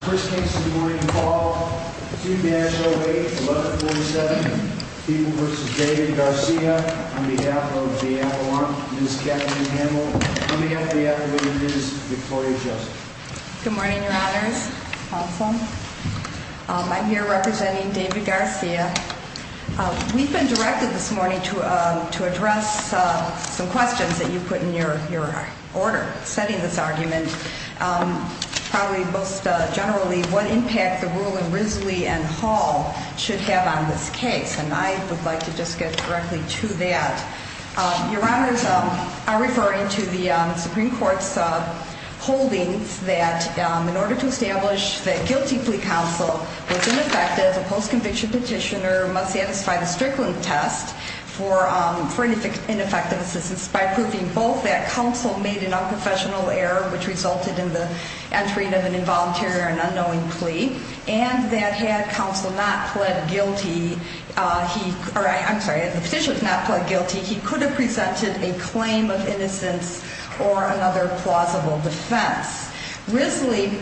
First case of the morning to call, 2-8-0-8, 11-47, People v. David Garcia, on behalf of the Avalon, Ms. Kathleen Hamel, on behalf of the Avalon, Ms. Victoria Joseph. Good morning, your honors, counsel. I'm here representing David Garcia. We've been directed this morning to address some questions that you put in your order setting this argument. And probably most generally, what impact the ruling Risley v. Hall should have on this case. And I would like to just get directly to that. Your honors are referring to the Supreme Court's holdings that in order to establish that guilty plea counsel was ineffective, a post-conviction petitioner must satisfy the Strickland test for ineffective assistance by proving both that counsel made an unprofessional error, which resulted in the entry of an involuntary or an unknowing plea, and that had counsel not pled guilty, or I'm sorry, the petitioner not pled guilty, he could have presented a claim of innocence or another plausible defense. Risley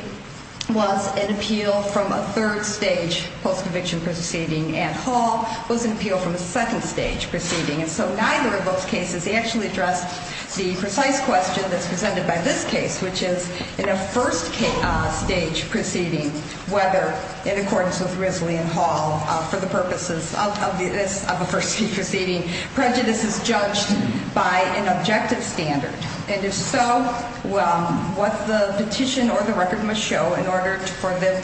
was an appeal from a third stage post-conviction proceeding, and Hall was an appeal from a second stage proceeding. And so neither of those cases actually addressed the precise question that's presented by this case, which is in a first stage proceeding, whether, in accordance with Risley and Hall, for the purposes of a first stage proceeding, prejudice is judged by an objective standard. And if so, what the petition or the record must show in order for the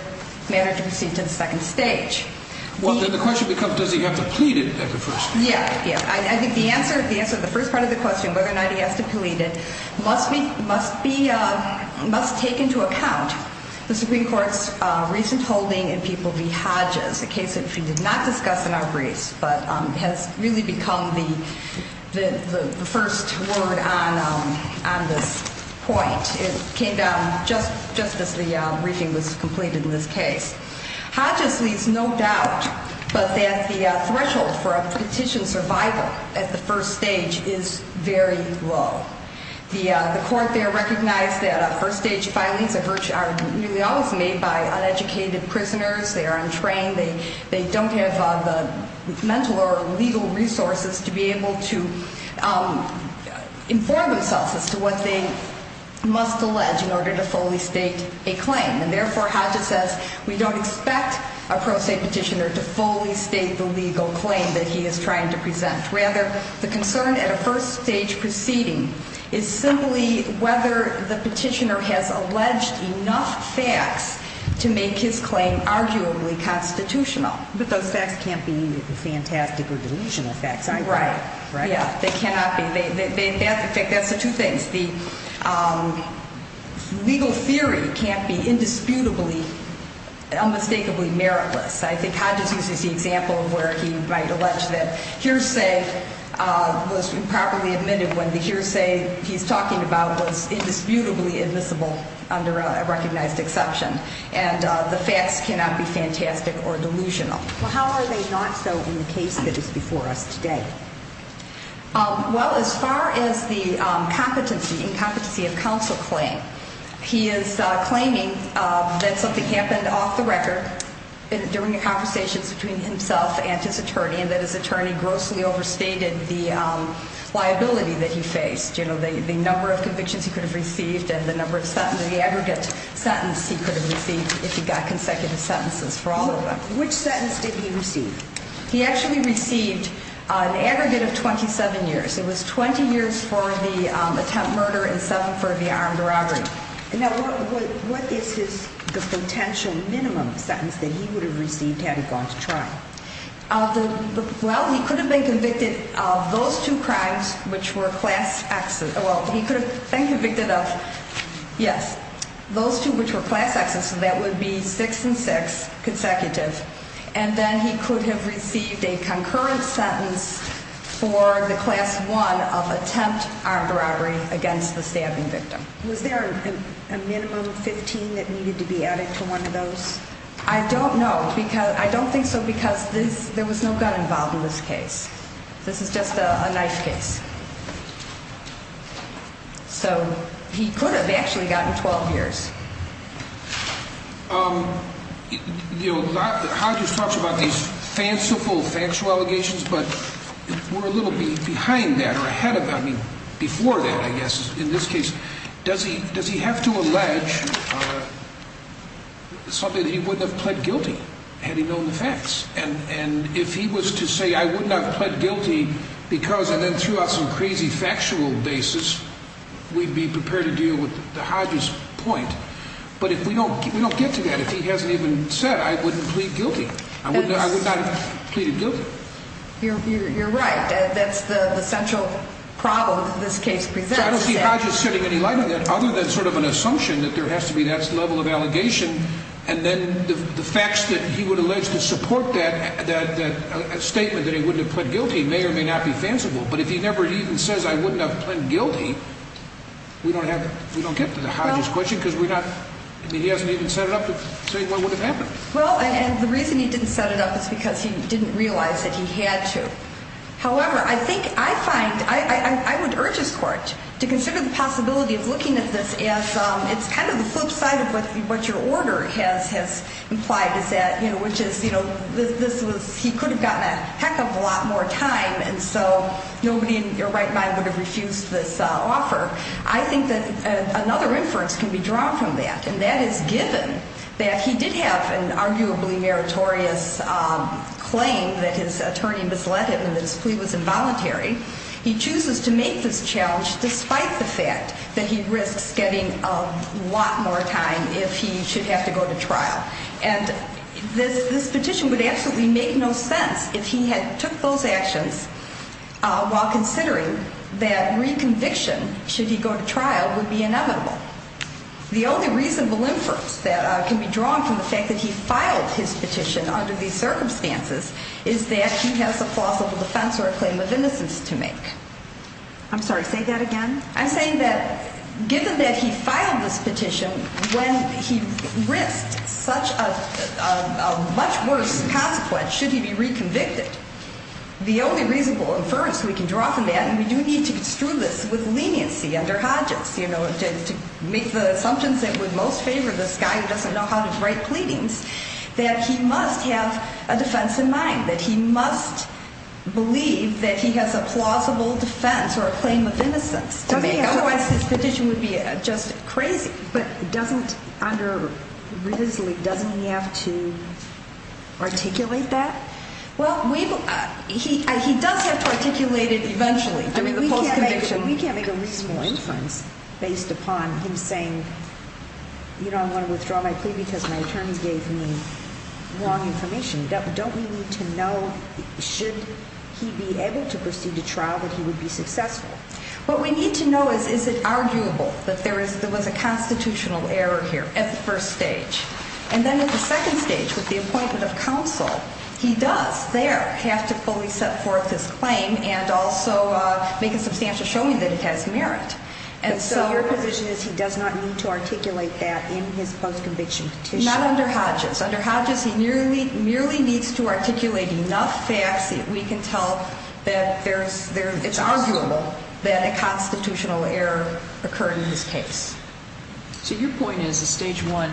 matter to proceed to the second stage. Well, then the question becomes, does he have to plead it at the first stage? Yeah, yeah. I think the answer to the first part of the question, whether or not he has to plead it, must take into account the Supreme Court's recent holding in People v. Hodges, a case that we did not discuss in our briefs but has really become the first word on this point. It came down just as the briefing was completed in this case. Hodges leaves no doubt but that the threshold for a petition survival at the first stage is very low. The court there recognized that first stage filings are nearly always made by uneducated prisoners. They are untrained. They don't have the mental or legal resources to be able to inform themselves as to what they must allege in order to fully state a claim. And therefore, Hodges says we don't expect a pro se petitioner to fully state the legal claim that he is trying to present. Rather, the concern at a first stage proceeding is simply whether the petitioner has alleged enough facts to make his claim arguably constitutional. But those facts can't be fantastic or delusional facts either, right? Right. Yeah, they cannot be. That's the two things. The legal theory can't be indisputably, unmistakably meritless. I think Hodges uses the example where he might allege that hearsay was improperly admitted when the hearsay he's talking about was indisputably admissible under a recognized exception. And the facts cannot be fantastic or delusional. Well, how are they not so in the case that is before us today? Well, as far as the competency and competency of counsel claim, he is claiming that something happened off the record during the conversations between himself and his attorney and that his attorney grossly overstated the liability that he faced. You know, the number of convictions he could have received and the number of the aggregate sentence he could have received if he got consecutive sentences for all of them. Which sentence did he receive? He actually received an aggregate of 27 years. It was 20 years for the attempted murder and seven for the armed robbery. And what is his potential minimum sentence that he would have received had he gone to trial? Well, he could have been convicted of those two crimes which were class X. Well, he could have been convicted of, yes, those two which were class X. So that would be six and six consecutive. And then he could have received a concurrent sentence for the class one of attempt armed robbery against the stabbing victim. Was there a minimum 15 that needed to be added to one of those? I don't know because I don't think so because there was no gun involved in this case. This is just a knife case. So he could have actually gotten 12 years. You know, Hodges talks about these fanciful factual allegations, but we're a little behind that or ahead of that, I mean, before that, I guess, in this case. Does he have to allege something that he wouldn't have pled guilty had he known the facts? And if he was to say, I would not have pled guilty because I then threw out some crazy factual basis, we'd be prepared to deal with the Hodges point. But if we don't get to that, if he hasn't even said I wouldn't plead guilty, I would not have pleaded guilty. You're right. That's the central problem that this case presents. I don't see Hodges setting any light on that other than sort of an assumption that there has to be that level of allegation. And then the facts that he would allege to support that statement that he wouldn't have pled guilty may or may not be fanciful. But if he never even says I wouldn't have pled guilty, we don't have, we don't get to the Hodges question because we're not, I mean, he hasn't even set it up to say what would have happened. Well, and the reason he didn't set it up is because he didn't realize that he had to. However, I think I find, I would urge his court to consider the possibility of looking at this as it's kind of the flip side of what your order has implied is that, you know, which is, you know, this was, he could have gotten a heck of a lot more time. And so nobody in your right mind would have refused this offer. I think that another inference can be drawn from that. And that is given that he did have an arguably meritorious claim that his attorney misled him and that his plea was involuntary. He chooses to make this challenge despite the fact that he risks getting a lot more time if he should have to go to trial. And this petition would absolutely make no sense if he had took those actions while considering that reconviction, should he go to trial, would be inevitable. The only reasonable inference that can be drawn from the fact that he filed his petition under these circumstances is that he has a plausible defense or a claim of innocence to make. I'm sorry, say that again. I'm saying that given that he filed this petition when he risked such a much worse consequence, should he be reconvicted, the only reasonable inference we can draw from that, and we do need to construe this with leniency under Hodges, you know, to make the assumptions that would most favor this guy who doesn't know how to write pleadings, that he must have a defense in mind, that he must believe that he has a plausible defense or a claim of innocence to make. Otherwise, this petition would be just crazy. But doesn't, under Ridley, doesn't he have to articulate that? Well, he does have to articulate it eventually. We can't make a reasonable inference based upon him saying, you know, I want to withdraw my plea because my attorney gave me wrong information. Don't we need to know, should he be able to proceed to trial, that he would be successful? What we need to know is, is it arguable that there was a constitutional error here at the first stage? And then at the second stage, with the appointment of counsel, he does there have to fully set forth his claim and also make a substantial showing that it has merit. And so your position is he does not need to articulate that in his post-conviction petition? Not under Hodges. Under Hodges, he merely needs to articulate enough facts that we can tell that it's arguable that a constitutional error occurred in his case. So your point is that stage one,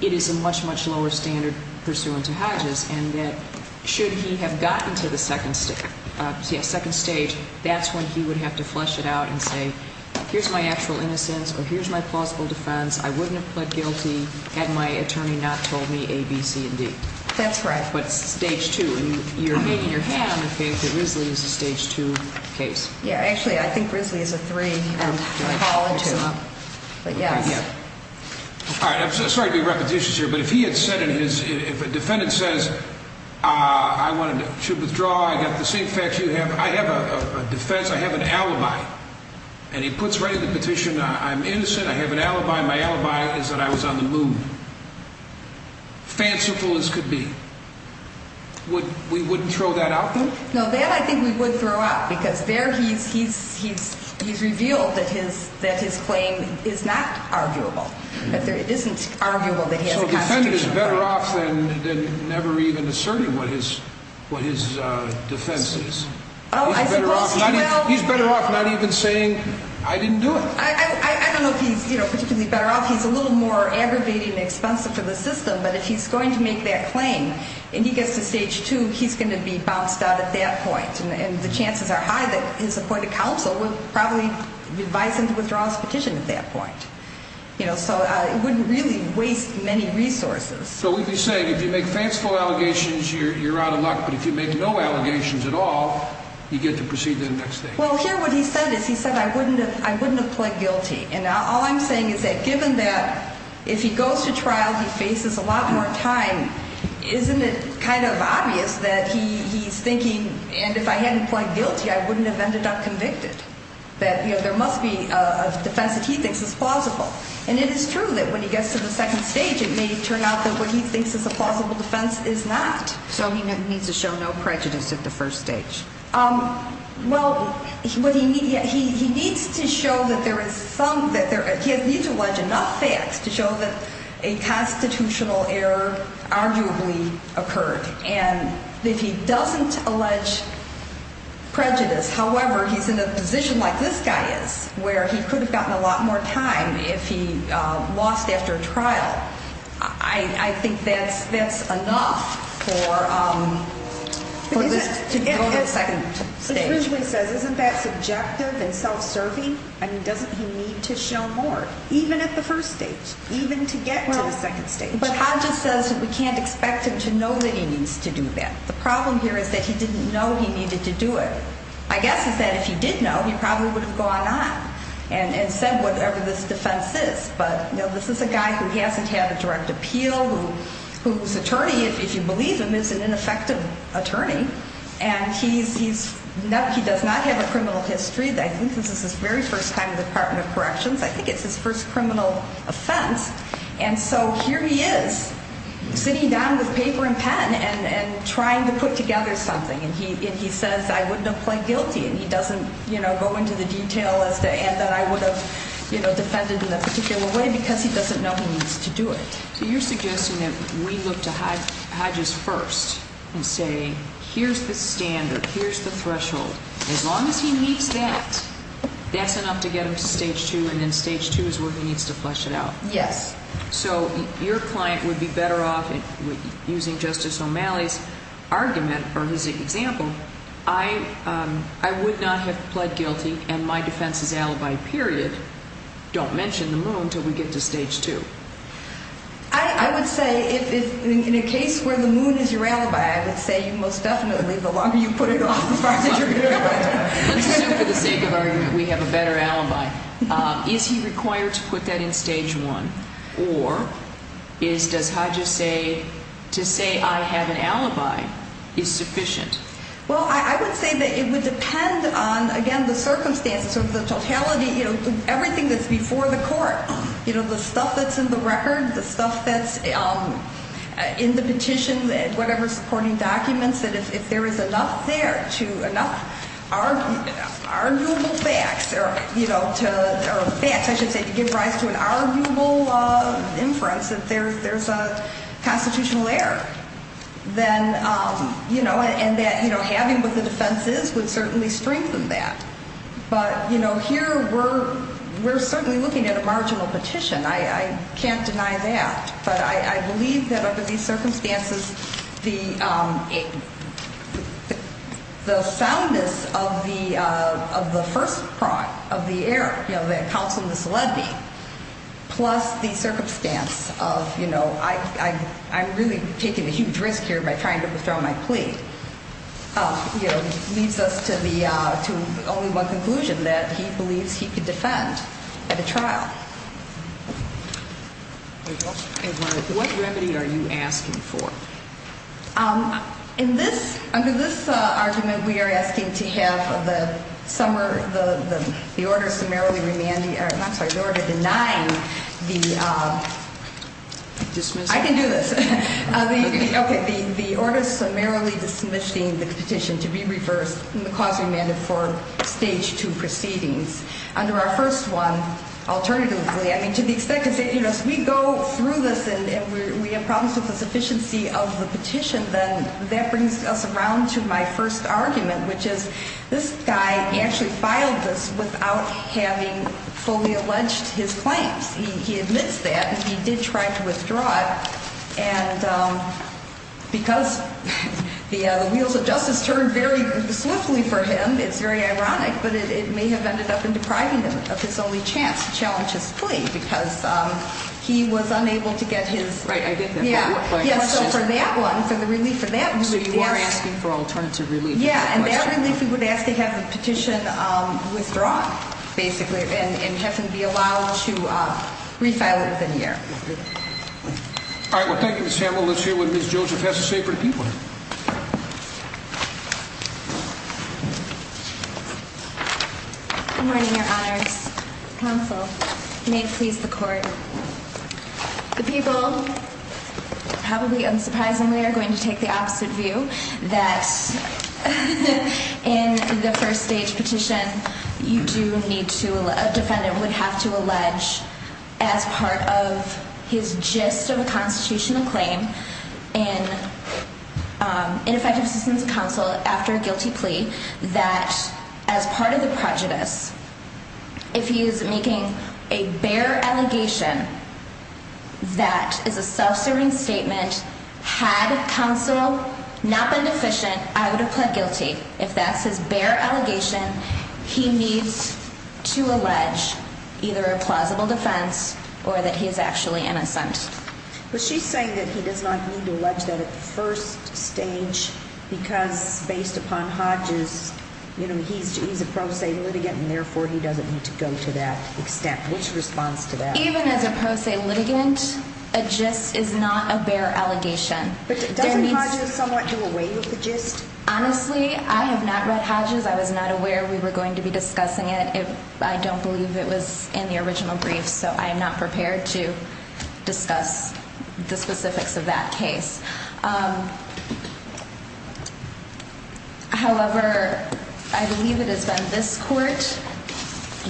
it is a much, much lower standard pursuant to Hodges, and that should he have gotten to the second stage, that's when he would have to flesh it out and say, here's my actual innocence or here's my plausible defense. I wouldn't have pled guilty had my attorney not told me A, B, C, and D. That's right. But it's stage two. And you're making your hand, I think, that Ridley is a stage two case. Yeah, actually, I think Ridley is a three. But yes. All right. I'm sorry to be repetitious here, but if he had said in his, if a defendant says, I wanted to withdraw, I got the same facts you have, I have a defense, I have an alibi, and he puts right in the petition, I'm innocent, I have an alibi, my alibi is that I was on the moon, fanciful as could be, we wouldn't throw that out there? No, that I think we would throw out because there he's revealed that his claim is not arguable, that it isn't arguable that he has a constitutional right. So the defendant is better off than never even asserting what his defense is. Oh, I suppose he will. He's better off not even saying, I didn't do it. I don't know if he's particularly better off. Well, he's a little more aggravating and expensive for the system, but if he's going to make that claim and he gets to stage two, he's going to be bounced out at that point. And the chances are high that his appointed counsel will probably advise him to withdraw his petition at that point. So it wouldn't really waste many resources. So we'd be saying if you make fanciful allegations, you're out of luck, but if you make no allegations at all, you get to proceed to the next stage. Well, here what he said is he said, I wouldn't have pled guilty. And now all I'm saying is that given that if he goes to trial, he faces a lot more time. Isn't it kind of obvious that he's thinking? And if I hadn't pled guilty, I wouldn't have ended up convicted that there must be a defense that he thinks is plausible. And it is true that when he gets to the second stage, it may turn out that what he thinks is a plausible defense is not. So he needs to show no prejudice at the first stage. Well, he needs to show that there is some that there is a need to watch enough facts to show that a constitutional error arguably occurred. And if he doesn't allege prejudice, however, he's in a position like this guy is where he could have gotten a lot more time if he lost after a trial. I think that's enough for him to go to the second stage. It usually says, isn't that subjective and self-serving? I mean, doesn't he need to show more, even at the first stage, even to get to the second stage? But Hodges says that we can't expect him to know that he needs to do that. The problem here is that he didn't know he needed to do it. I guess he said if he did know, he probably would have gone on and said whatever this defense is. But this is a guy who hasn't had a direct appeal, whose attorney, if you believe him, is an ineffective attorney. And he does not have a criminal history. I think this is his very first time in the Department of Corrections. I think it's his first criminal offense. And so here he is sitting down with paper and pen and trying to put together something. And he says I wouldn't have pled guilty. And he doesn't go into the detail as to and that I would have defended in a particular way because he doesn't know he needs to do it. So you're suggesting that we look to Hodges first and say here's the standard, here's the threshold. As long as he meets that, that's enough to get him to stage two, and then stage two is where he needs to flesh it out. Yes. So your client would be better off, using Justice O'Malley's argument or his example, I would not have pled guilty and my defense is alibi, period, don't mention the moon until we get to stage two. I would say in a case where the moon is your alibi, I would say most definitely the longer you put it off, the farther you're going. Let's assume for the sake of argument we have a better alibi. Is he required to put that in stage one? Or does Hodges say to say I have an alibi is sufficient? Well, I would say that it would depend on, again, the circumstances of the totality, everything that's before the court, the stuff that's in the record, the stuff that's in the petition, whatever supporting documents, that if there is enough there to enough arguable facts or facts, I should say, to give rise to an arguable inference that there's a constitutional error, then having what the defense is would certainly strengthen that. But here we're certainly looking at a marginal petition. I can't deny that. But I believe that under these circumstances, the soundness of the first part of the error, that counsel misled me, plus the circumstance of I'm really taking a huge risk here by trying to withdraw my plea, leads us to only one conclusion, that he believes he could defend at a trial. What remedy are you asking for? Under this argument, we are asking to have the order summarily demanding, I'm sorry, the order denying the... Dismissal? I can do this. Okay, the order summarily dismissing the petition to be reversed and the cause demanded for stage two proceedings. Under our first one, alternatively, I mean, to the extent that we go through this and we have problems with the sufficiency of the petition, then that brings us around to my first argument, which is this guy actually filed this without having fully alleged his claims. He admits that. He did try to withdraw it. And because the wheels of justice turned very swiftly for him, it's very ironic, but it may have ended up in depriving him of his only chance to challenge his plea because he was unable to get his... Right, I get that. Yeah, so for that one, for the relief for that... So you are asking for alternative relief. Yeah, and that relief we would ask to have the petition withdrawn, basically, and have him be allowed to refile it within a year. All right, well, thank you, Ms. Hamill. Let's hear what Ms. Joseph has to say for the people. Good morning, Your Honors. Counsel, may it please the Court. The people, probably unsurprisingly, are going to take the opposite view, that in the first stage petition, you do need to... A defendant would have to allege as part of his gist of a constitutional claim in effective assistance of counsel after a guilty plea that as part of the prejudice, if he is making a bare allegation that is a self-serving statement, had counsel not been deficient, I would have pled guilty. If that's his bare allegation, he needs to allege either a plausible defense or that he is actually innocent. But she's saying that he does not need to allege that at the first stage because, based upon Hodges, he's a pro se litigant, and therefore he doesn't need to go to that extent. What's your response to that? Even as a pro se litigant, a gist is not a bare allegation. But doesn't Hodges somewhat do away with the gist? Honestly, I have not read Hodges. I was not aware we were going to be discussing it. I don't believe it was in the original brief, so I am not prepared to discuss the specifics of that case. However, I believe it has been this court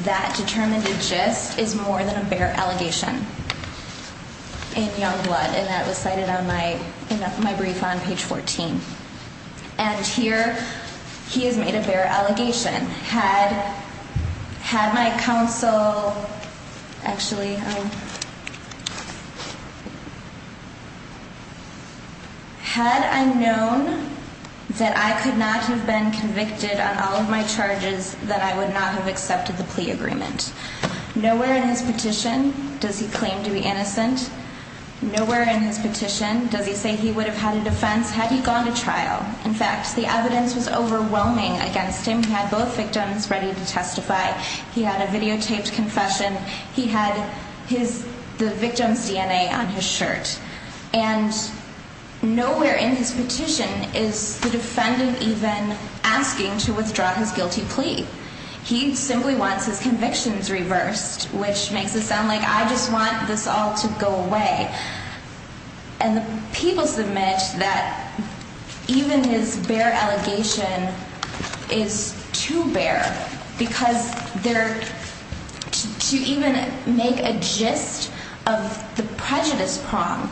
that determined a gist is more than a bare allegation in Youngblood, and that was cited in my brief on page 14. And here he has made a bare allegation. Had I known that I could not have been convicted on all of my charges, that I would not have accepted the plea agreement. Nowhere in his petition does he claim to be innocent. Nowhere in his petition does he say he would have had a defense had he gone to trial. In fact, the evidence was overwhelming against him. He had both victims ready to testify. He had a videotaped confession. He had the victim's DNA on his shirt. And nowhere in his petition is the defendant even asking to withdraw his guilty plea. He simply wants his convictions reversed, which makes it sound like I just want this all to go away. And the people submit that even his bare allegation is too bare because to even make a gist of the prejudice prong,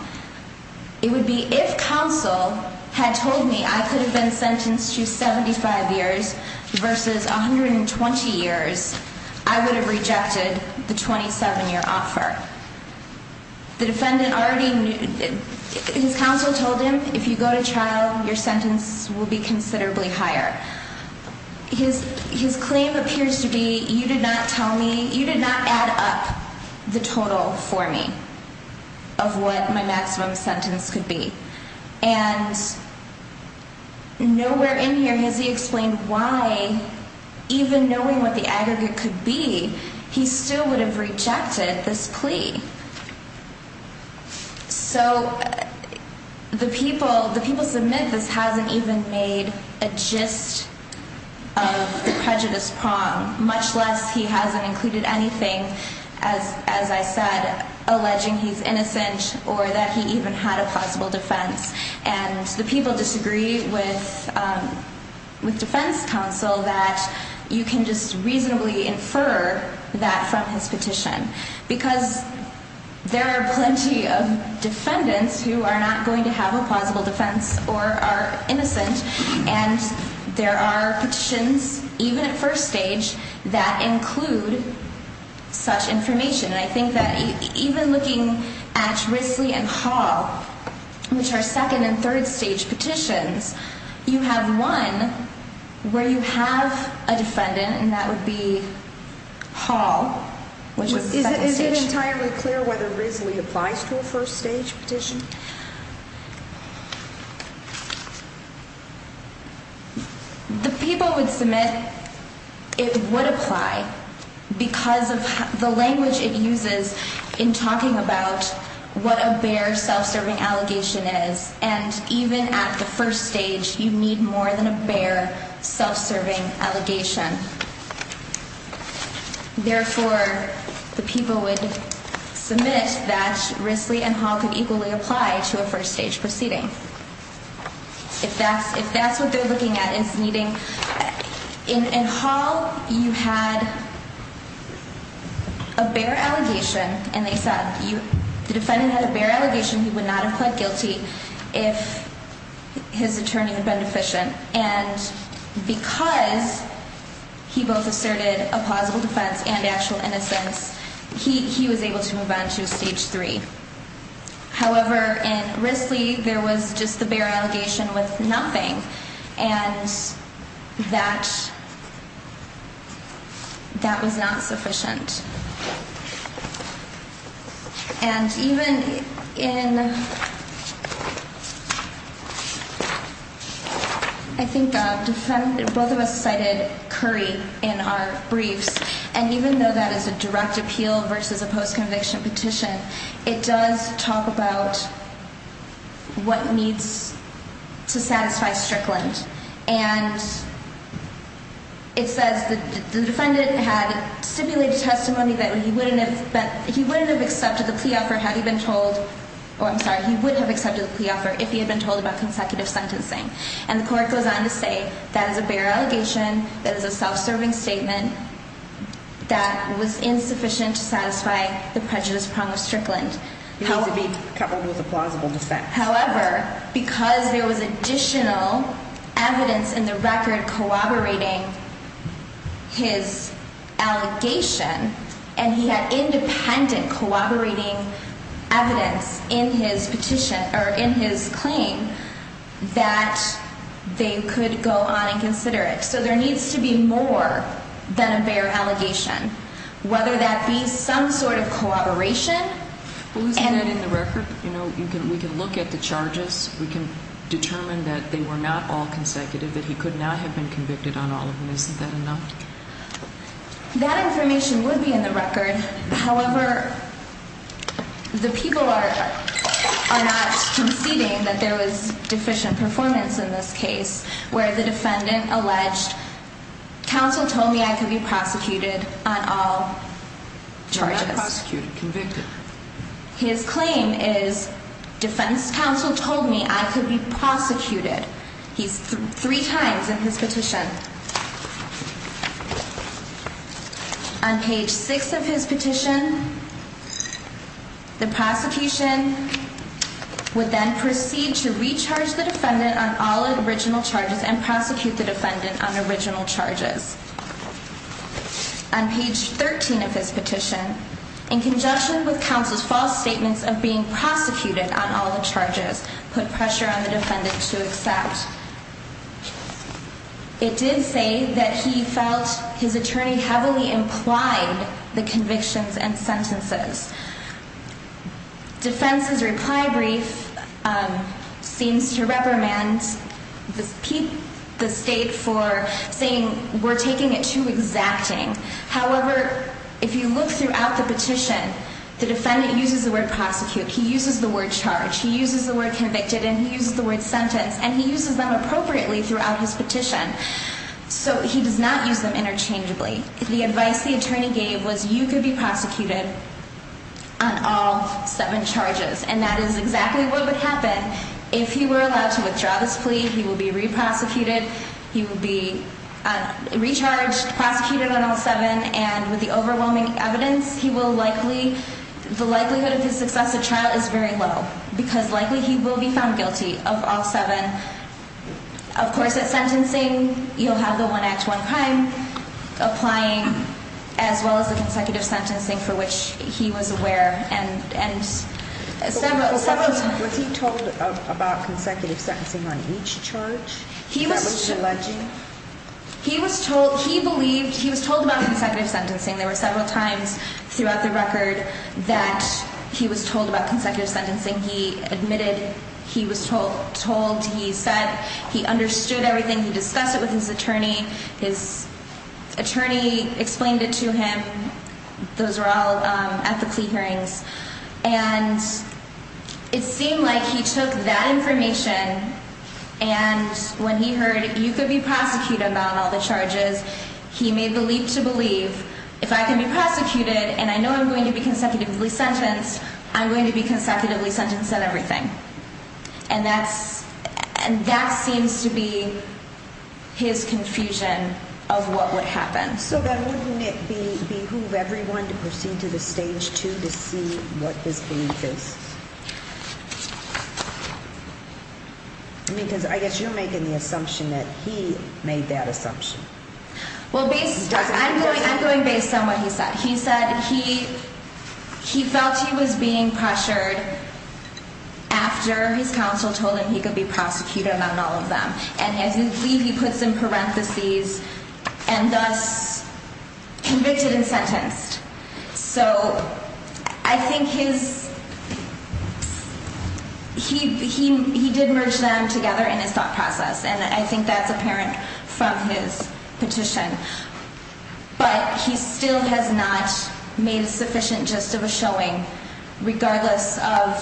it would be if counsel had told me I could have been sentenced to 75 years versus 120 years, I would have rejected the 27-year offer. The defendant already knew. His counsel told him, if you go to trial, your sentence will be considerably higher. His claim appears to be, you did not tell me, you did not add up the total for me of what my maximum sentence could be. And nowhere in here has he explained why, even knowing what the aggregate could be, he still would have rejected this plea. So the people submit this hasn't even made a gist of the prejudice prong, much less he hasn't included anything, as I said, alleging he's innocent or that he even had a possible defense. And the people disagree with defense counsel that you can just reasonably infer that from his petition because there are plenty of defendants who are not going to have a plausible defense or are innocent, and there are petitions, even at first stage, that include such information. And I think that even looking at Risley and Hall, which are second and third stage petitions, you have one where you have a defendant, and that would be Hall, which is the second stage. Is it entirely clear whether Risley applies to a first stage petition? The people would submit it would apply because of the language it uses in talking about what a bare self-serving allegation is. And even at the first stage, you need more than a bare self-serving allegation. Therefore, the people would submit that Risley and Hall could equally apply to a first stage proceeding. If that's what they're looking at as needing. In Hall, you had a bare allegation, and they said the defendant had a bare allegation. He would not have pled guilty if his attorney had been deficient. And because he both asserted a plausible defense and actual innocence, he was able to move on to stage three. However, in Risley, there was just the bare allegation with nothing, and that was not sufficient. And even in, I think both of us cited Curry in our briefs, and even though that is a direct appeal versus a post-conviction petition, it does talk about what needs to satisfy Strickland. And it says the defendant had stipulated testimony that he wouldn't have accepted the plea offer had he been told, or I'm sorry, he would have accepted the plea offer if he had been told about consecutive sentencing. And the court goes on to say that is a bare allegation, that is a self-serving statement, that was insufficient to satisfy the prejudice prong of Strickland. It needs to be covered with a plausible defense. However, because there was additional evidence in the record corroborating his allegation, and he had independent corroborating evidence in his petition, or in his claim, that they could go on and consider it. So there needs to be more than a bare allegation, whether that be some sort of corroboration. Well, isn't that in the record? You know, we can look at the charges. We can determine that they were not all consecutive, that he could not have been convicted on all of them. Isn't that enough? That information would be in the record. However, the people are not conceding that there was deficient performance in this case, where the defendant alleged counsel told me I could be prosecuted on all charges. His claim is defense counsel told me I could be prosecuted. He's three times in his petition. On page six of his petition, the prosecution would then proceed to recharge the defendant on all original charges and prosecute the defendant on original charges. On page 13 of his petition, in conjunction with counsel's false statements of being prosecuted on all the charges, put pressure on the defendant to accept. It did say that he felt his attorney heavily implied the convictions and sentences. Defense's reply brief seems to reprimand the state for saying we're taking it too exacting. However, if you look throughout the petition, the defendant uses the word prosecute. He uses the word charge. He uses the word convicted, and he uses the word sentence, and he uses them appropriately throughout his petition. So he does not use them interchangeably. The advice the attorney gave was you could be prosecuted on all seven charges, and that is exactly what would happen if he were allowed to withdraw this plea. He will be reprosecuted. He will be recharged, prosecuted on all seven. And with the overwhelming evidence, he will likely the likelihood of his successive trial is very low because likely he will be found guilty of all seven. Of course, at sentencing, you'll have the one act, one crime applying, as well as the consecutive sentencing for which he was aware. And several times... Was he told about consecutive sentencing on each charge that was alleged? He was told. He believed. He was told about consecutive sentencing. There were several times throughout the record that he was told about consecutive sentencing. He admitted he was told. He said he understood everything. He discussed it with his attorney. His attorney explained it to him. Those were all at the plea hearings. And it seemed like he took that information and when he heard you could be prosecuted on all the charges, he made the leap to believe if I can be prosecuted and I know I'm going to be consecutively sentenced, I'm going to be consecutively sentenced on everything. And that seems to be his confusion of what would happen. So then wouldn't it behoove everyone to proceed to the stage two to see what his belief is? Because I guess you're making the assumption that he made that assumption. Well, I'm going based on what he said. He said he felt he was being pressured after his counsel told him he could be prosecuted on all of them. And as his plea, he puts in parentheses and thus convicted and sentenced. So I think he did merge them together in his thought process. And I think that's apparent from his petition. But he still has not made a sufficient gist of a showing, regardless of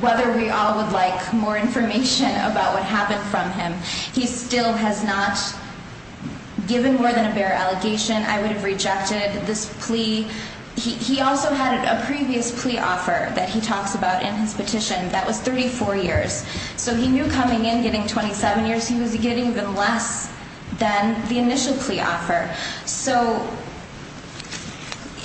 whether we all would like more information about what happened from him. He still has not given more than a bare allegation. I would have rejected this plea. He also had a previous plea offer that he talks about in his petition. That was 34 years. So he knew coming in, getting 27 years, he was getting even less. Than the initial plea offer. So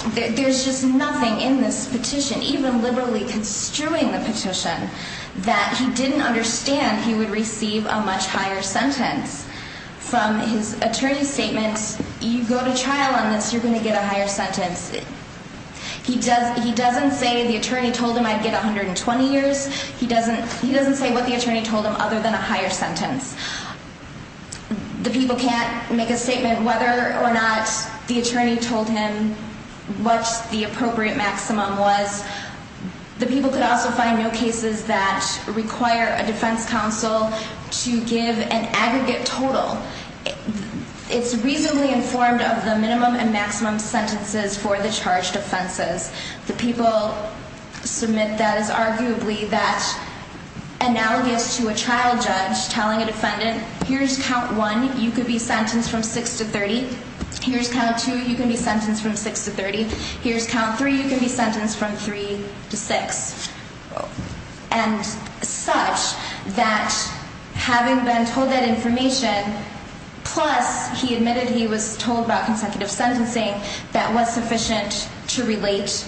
there's just nothing in this petition, even liberally construing the petition, that he didn't understand he would receive a much higher sentence. From his attorney's statement, you go to trial on this, you're going to get a higher sentence. He doesn't say the attorney told him I'd get 120 years. He doesn't say what the attorney told him other than a higher sentence. The people can't make a statement whether or not the attorney told him what the appropriate maximum was. The people could also find no cases that require a defense counsel to give an aggregate total. It's reasonably informed of the minimum and maximum sentences for the charged offenses. The people submit that as arguably that analogous to a trial judge telling a defendant, here's count 1, you could be sentenced from 6 to 30. Here's count 2, you can be sentenced from 6 to 30. Here's count 3, you can be sentenced from 3 to 6. And such that having been told that information, plus he admitted he was told about consecutive sentencing, that was sufficient to relate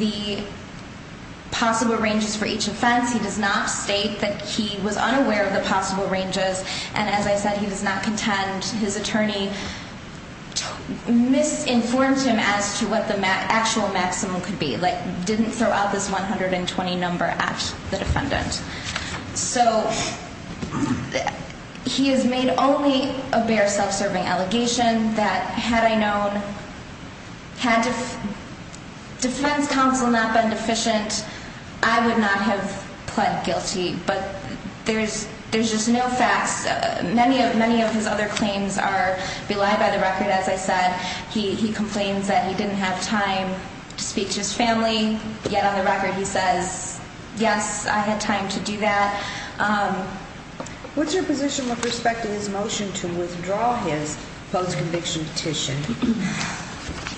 the possible ranges for each offense. He does not state that he was unaware of the possible ranges. And as I said, he does not contend his attorney misinformed him as to what the actual maximum could be. Like, didn't throw out this 120 number at the defendant. So he has made only a bare self-serving allegation that had I known, had defense counsel not been deficient, I would not have pled guilty. But there's just no facts. Many of his other claims are belied by the record, as I said. He complains that he didn't have time to speak to his family, yet on the record he says, yes, I had time to do that. What's your position with respect to his motion to withdraw his post-conviction petition?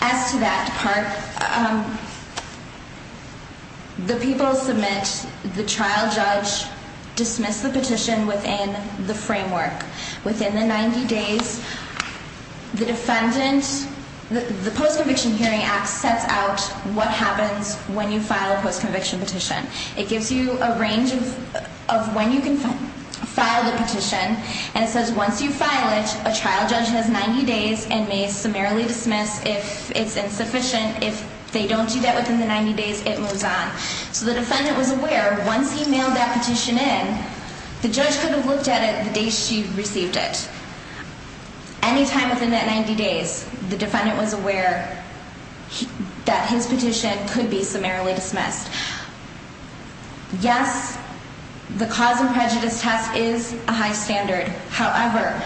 As to that part, the people submit, the trial judge dismissed the petition within the framework. Within the 90 days, the defendant, the post-conviction hearing act sets out what happens when you file a post-conviction petition. It gives you a range of when you can file the petition. And it says once you file it, a trial judge has 90 days and may summarily dismiss if it's insufficient. If they don't do that within the 90 days, it moves on. So the defendant was aware once he mailed that petition in, the judge could have looked at it the day she received it. Any time within that 90 days, the defendant was aware that his petition could be summarily dismissed. Yes, the cause and prejudice test is a high standard. However,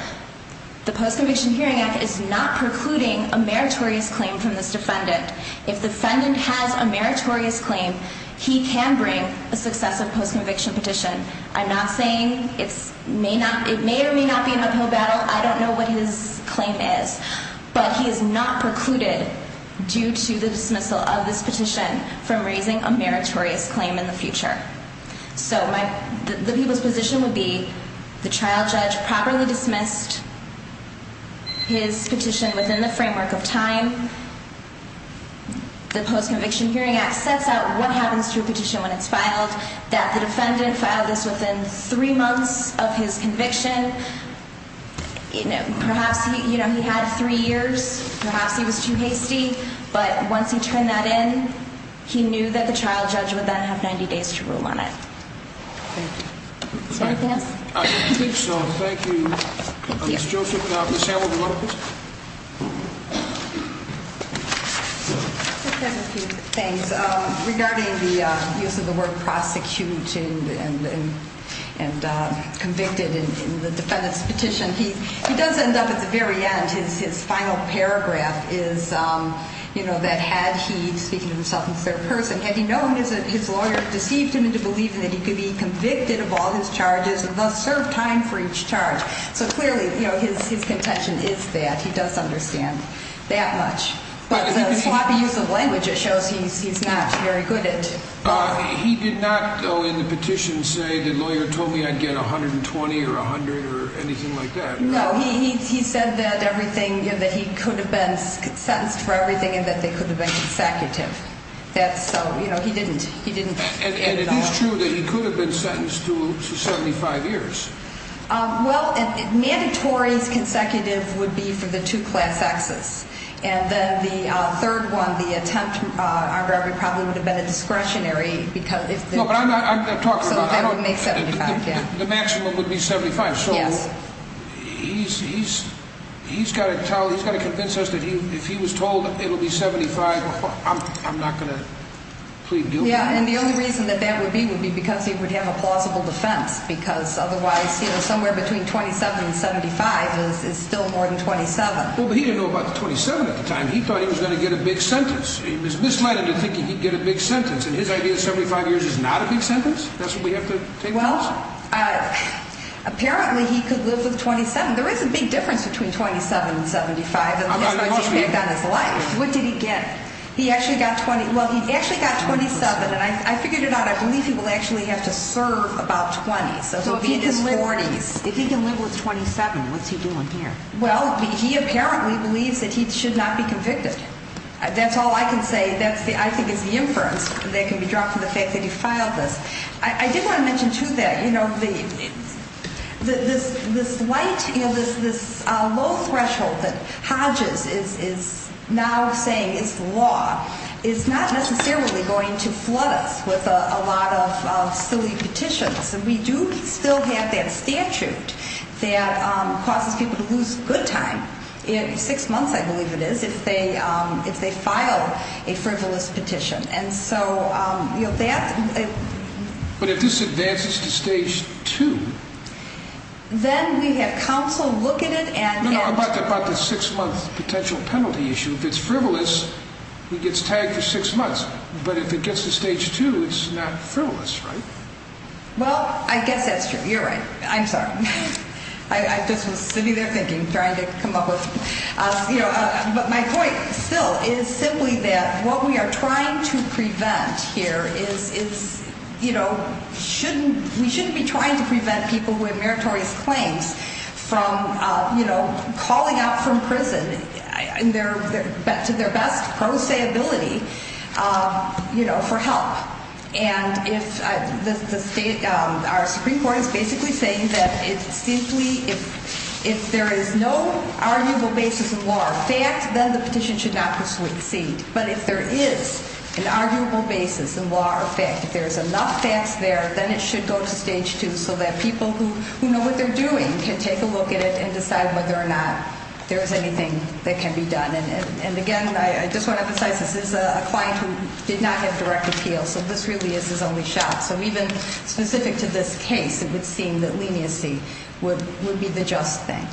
the post-conviction hearing act is not precluding a meritorious claim from this defendant. If the defendant has a meritorious claim, he can bring a successive post-conviction petition. I'm not saying it may or may not be an uphill battle. I don't know what his claim is. But he is not precluded due to the dismissal of this petition from raising a meritorious claim in the future. So the people's position would be the trial judge properly dismissed his petition within the framework of time. The post-conviction hearing act sets out what happens to a petition when it's filed, that the defendant filed this within three months of his conviction. Perhaps he had three years. Perhaps he was too hasty. But once he turned that in, he knew that the trial judge would then have 90 days to rule on it. Thank you. Is there anything else? I don't think so. Thank you. Thank you. Ms. Joseph. Ms. Hamilton, would you mind, please? Regarding the use of the word prosecuting and convicted in the defendant's petition, he does end up at the very end. His final paragraph is that had he, speaking to himself in third person, had he known his lawyer deceived him into believing that he could be convicted of all his charges and thus serve time for each charge. So clearly his contention is that. He does understand that much. But the sloppy use of language, it shows he's not very good at both. He did not, though, in the petition say the lawyer told me I'd get 120 or 100 or anything like that? No, he said that everything, that he could have been sentenced for everything and that they could have been consecutive. That's so, you know, he didn't. He didn't. And it is true that he could have been sentenced to 75 years. Well, a mandatory consecutive would be for the two class X's. And then the third one, the attempt probably would have been a discretionary because. No, but I'm talking about. So that would make 75, yeah. The maximum would be 75. Yes. He's got to tell, he's got to convince us that if he was told it will be 75, I'm not going to plead guilty. Yeah, and the only reason that that would be would be because he would have a plausible defense. Because otherwise, you know, somewhere between 27 and 75 is still more than 27. Well, but he didn't know about the 27 at the time. He thought he was going to get a big sentence. He was misled into thinking he'd get a big sentence. And his idea of 75 years is not a big sentence? That's what we have to take for granted? Well, apparently he could live with 27. There is a big difference between 27 and 75. And that's going to have an impact on his life. What did he get? He actually got 20. Well, he actually got 27. And I figured it out. I believe he will actually have to serve about 20. So it would be in his 40s. If he can live with 27, what's he doing here? Well, he apparently believes that he should not be convicted. That's all I can say. That, I think, is the inference that can be drawn from the fact that he filed this. I did want to mention, too, that this low threshold that Hodges is now saying is the law is not necessarily going to flood us with a lot of silly petitions. And we do still have that statute that causes people to lose good time. Six months, I believe it is, if they file a frivolous petition. But if this advances to Stage 2... Then we have counsel look at it and... No, no, about the six-month potential penalty issue. If it's frivolous, he gets tagged for six months. But if it gets to Stage 2, it's not frivolous, right? Well, I guess that's true. You're right. I'm sorry. I just was sitting there thinking, trying to come up with... But my point still is simply that what we are trying to prevent here is... We shouldn't be trying to prevent people with meritorious claims from calling out from prison to their best pro se ability for help. Our Supreme Court is basically saying that if there is no arguable basis in law or fact, then the petition should not proceed. But if there is an arguable basis in law or fact, if there is enough facts there, then it should go to Stage 2 so that people who know what they're doing can take a look at it and decide whether or not there is anything that can be done. And again, I just want to emphasize, this is a client who did not have direct appeal. So this really is his only shot. So even specific to this case, it would seem that leniency would be the just thing.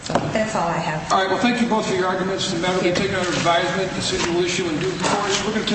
So that's all I have. All right. Well, thank you both for your arguments. The matter will be taken under advisement. The decision will issue in due course. We're going to take...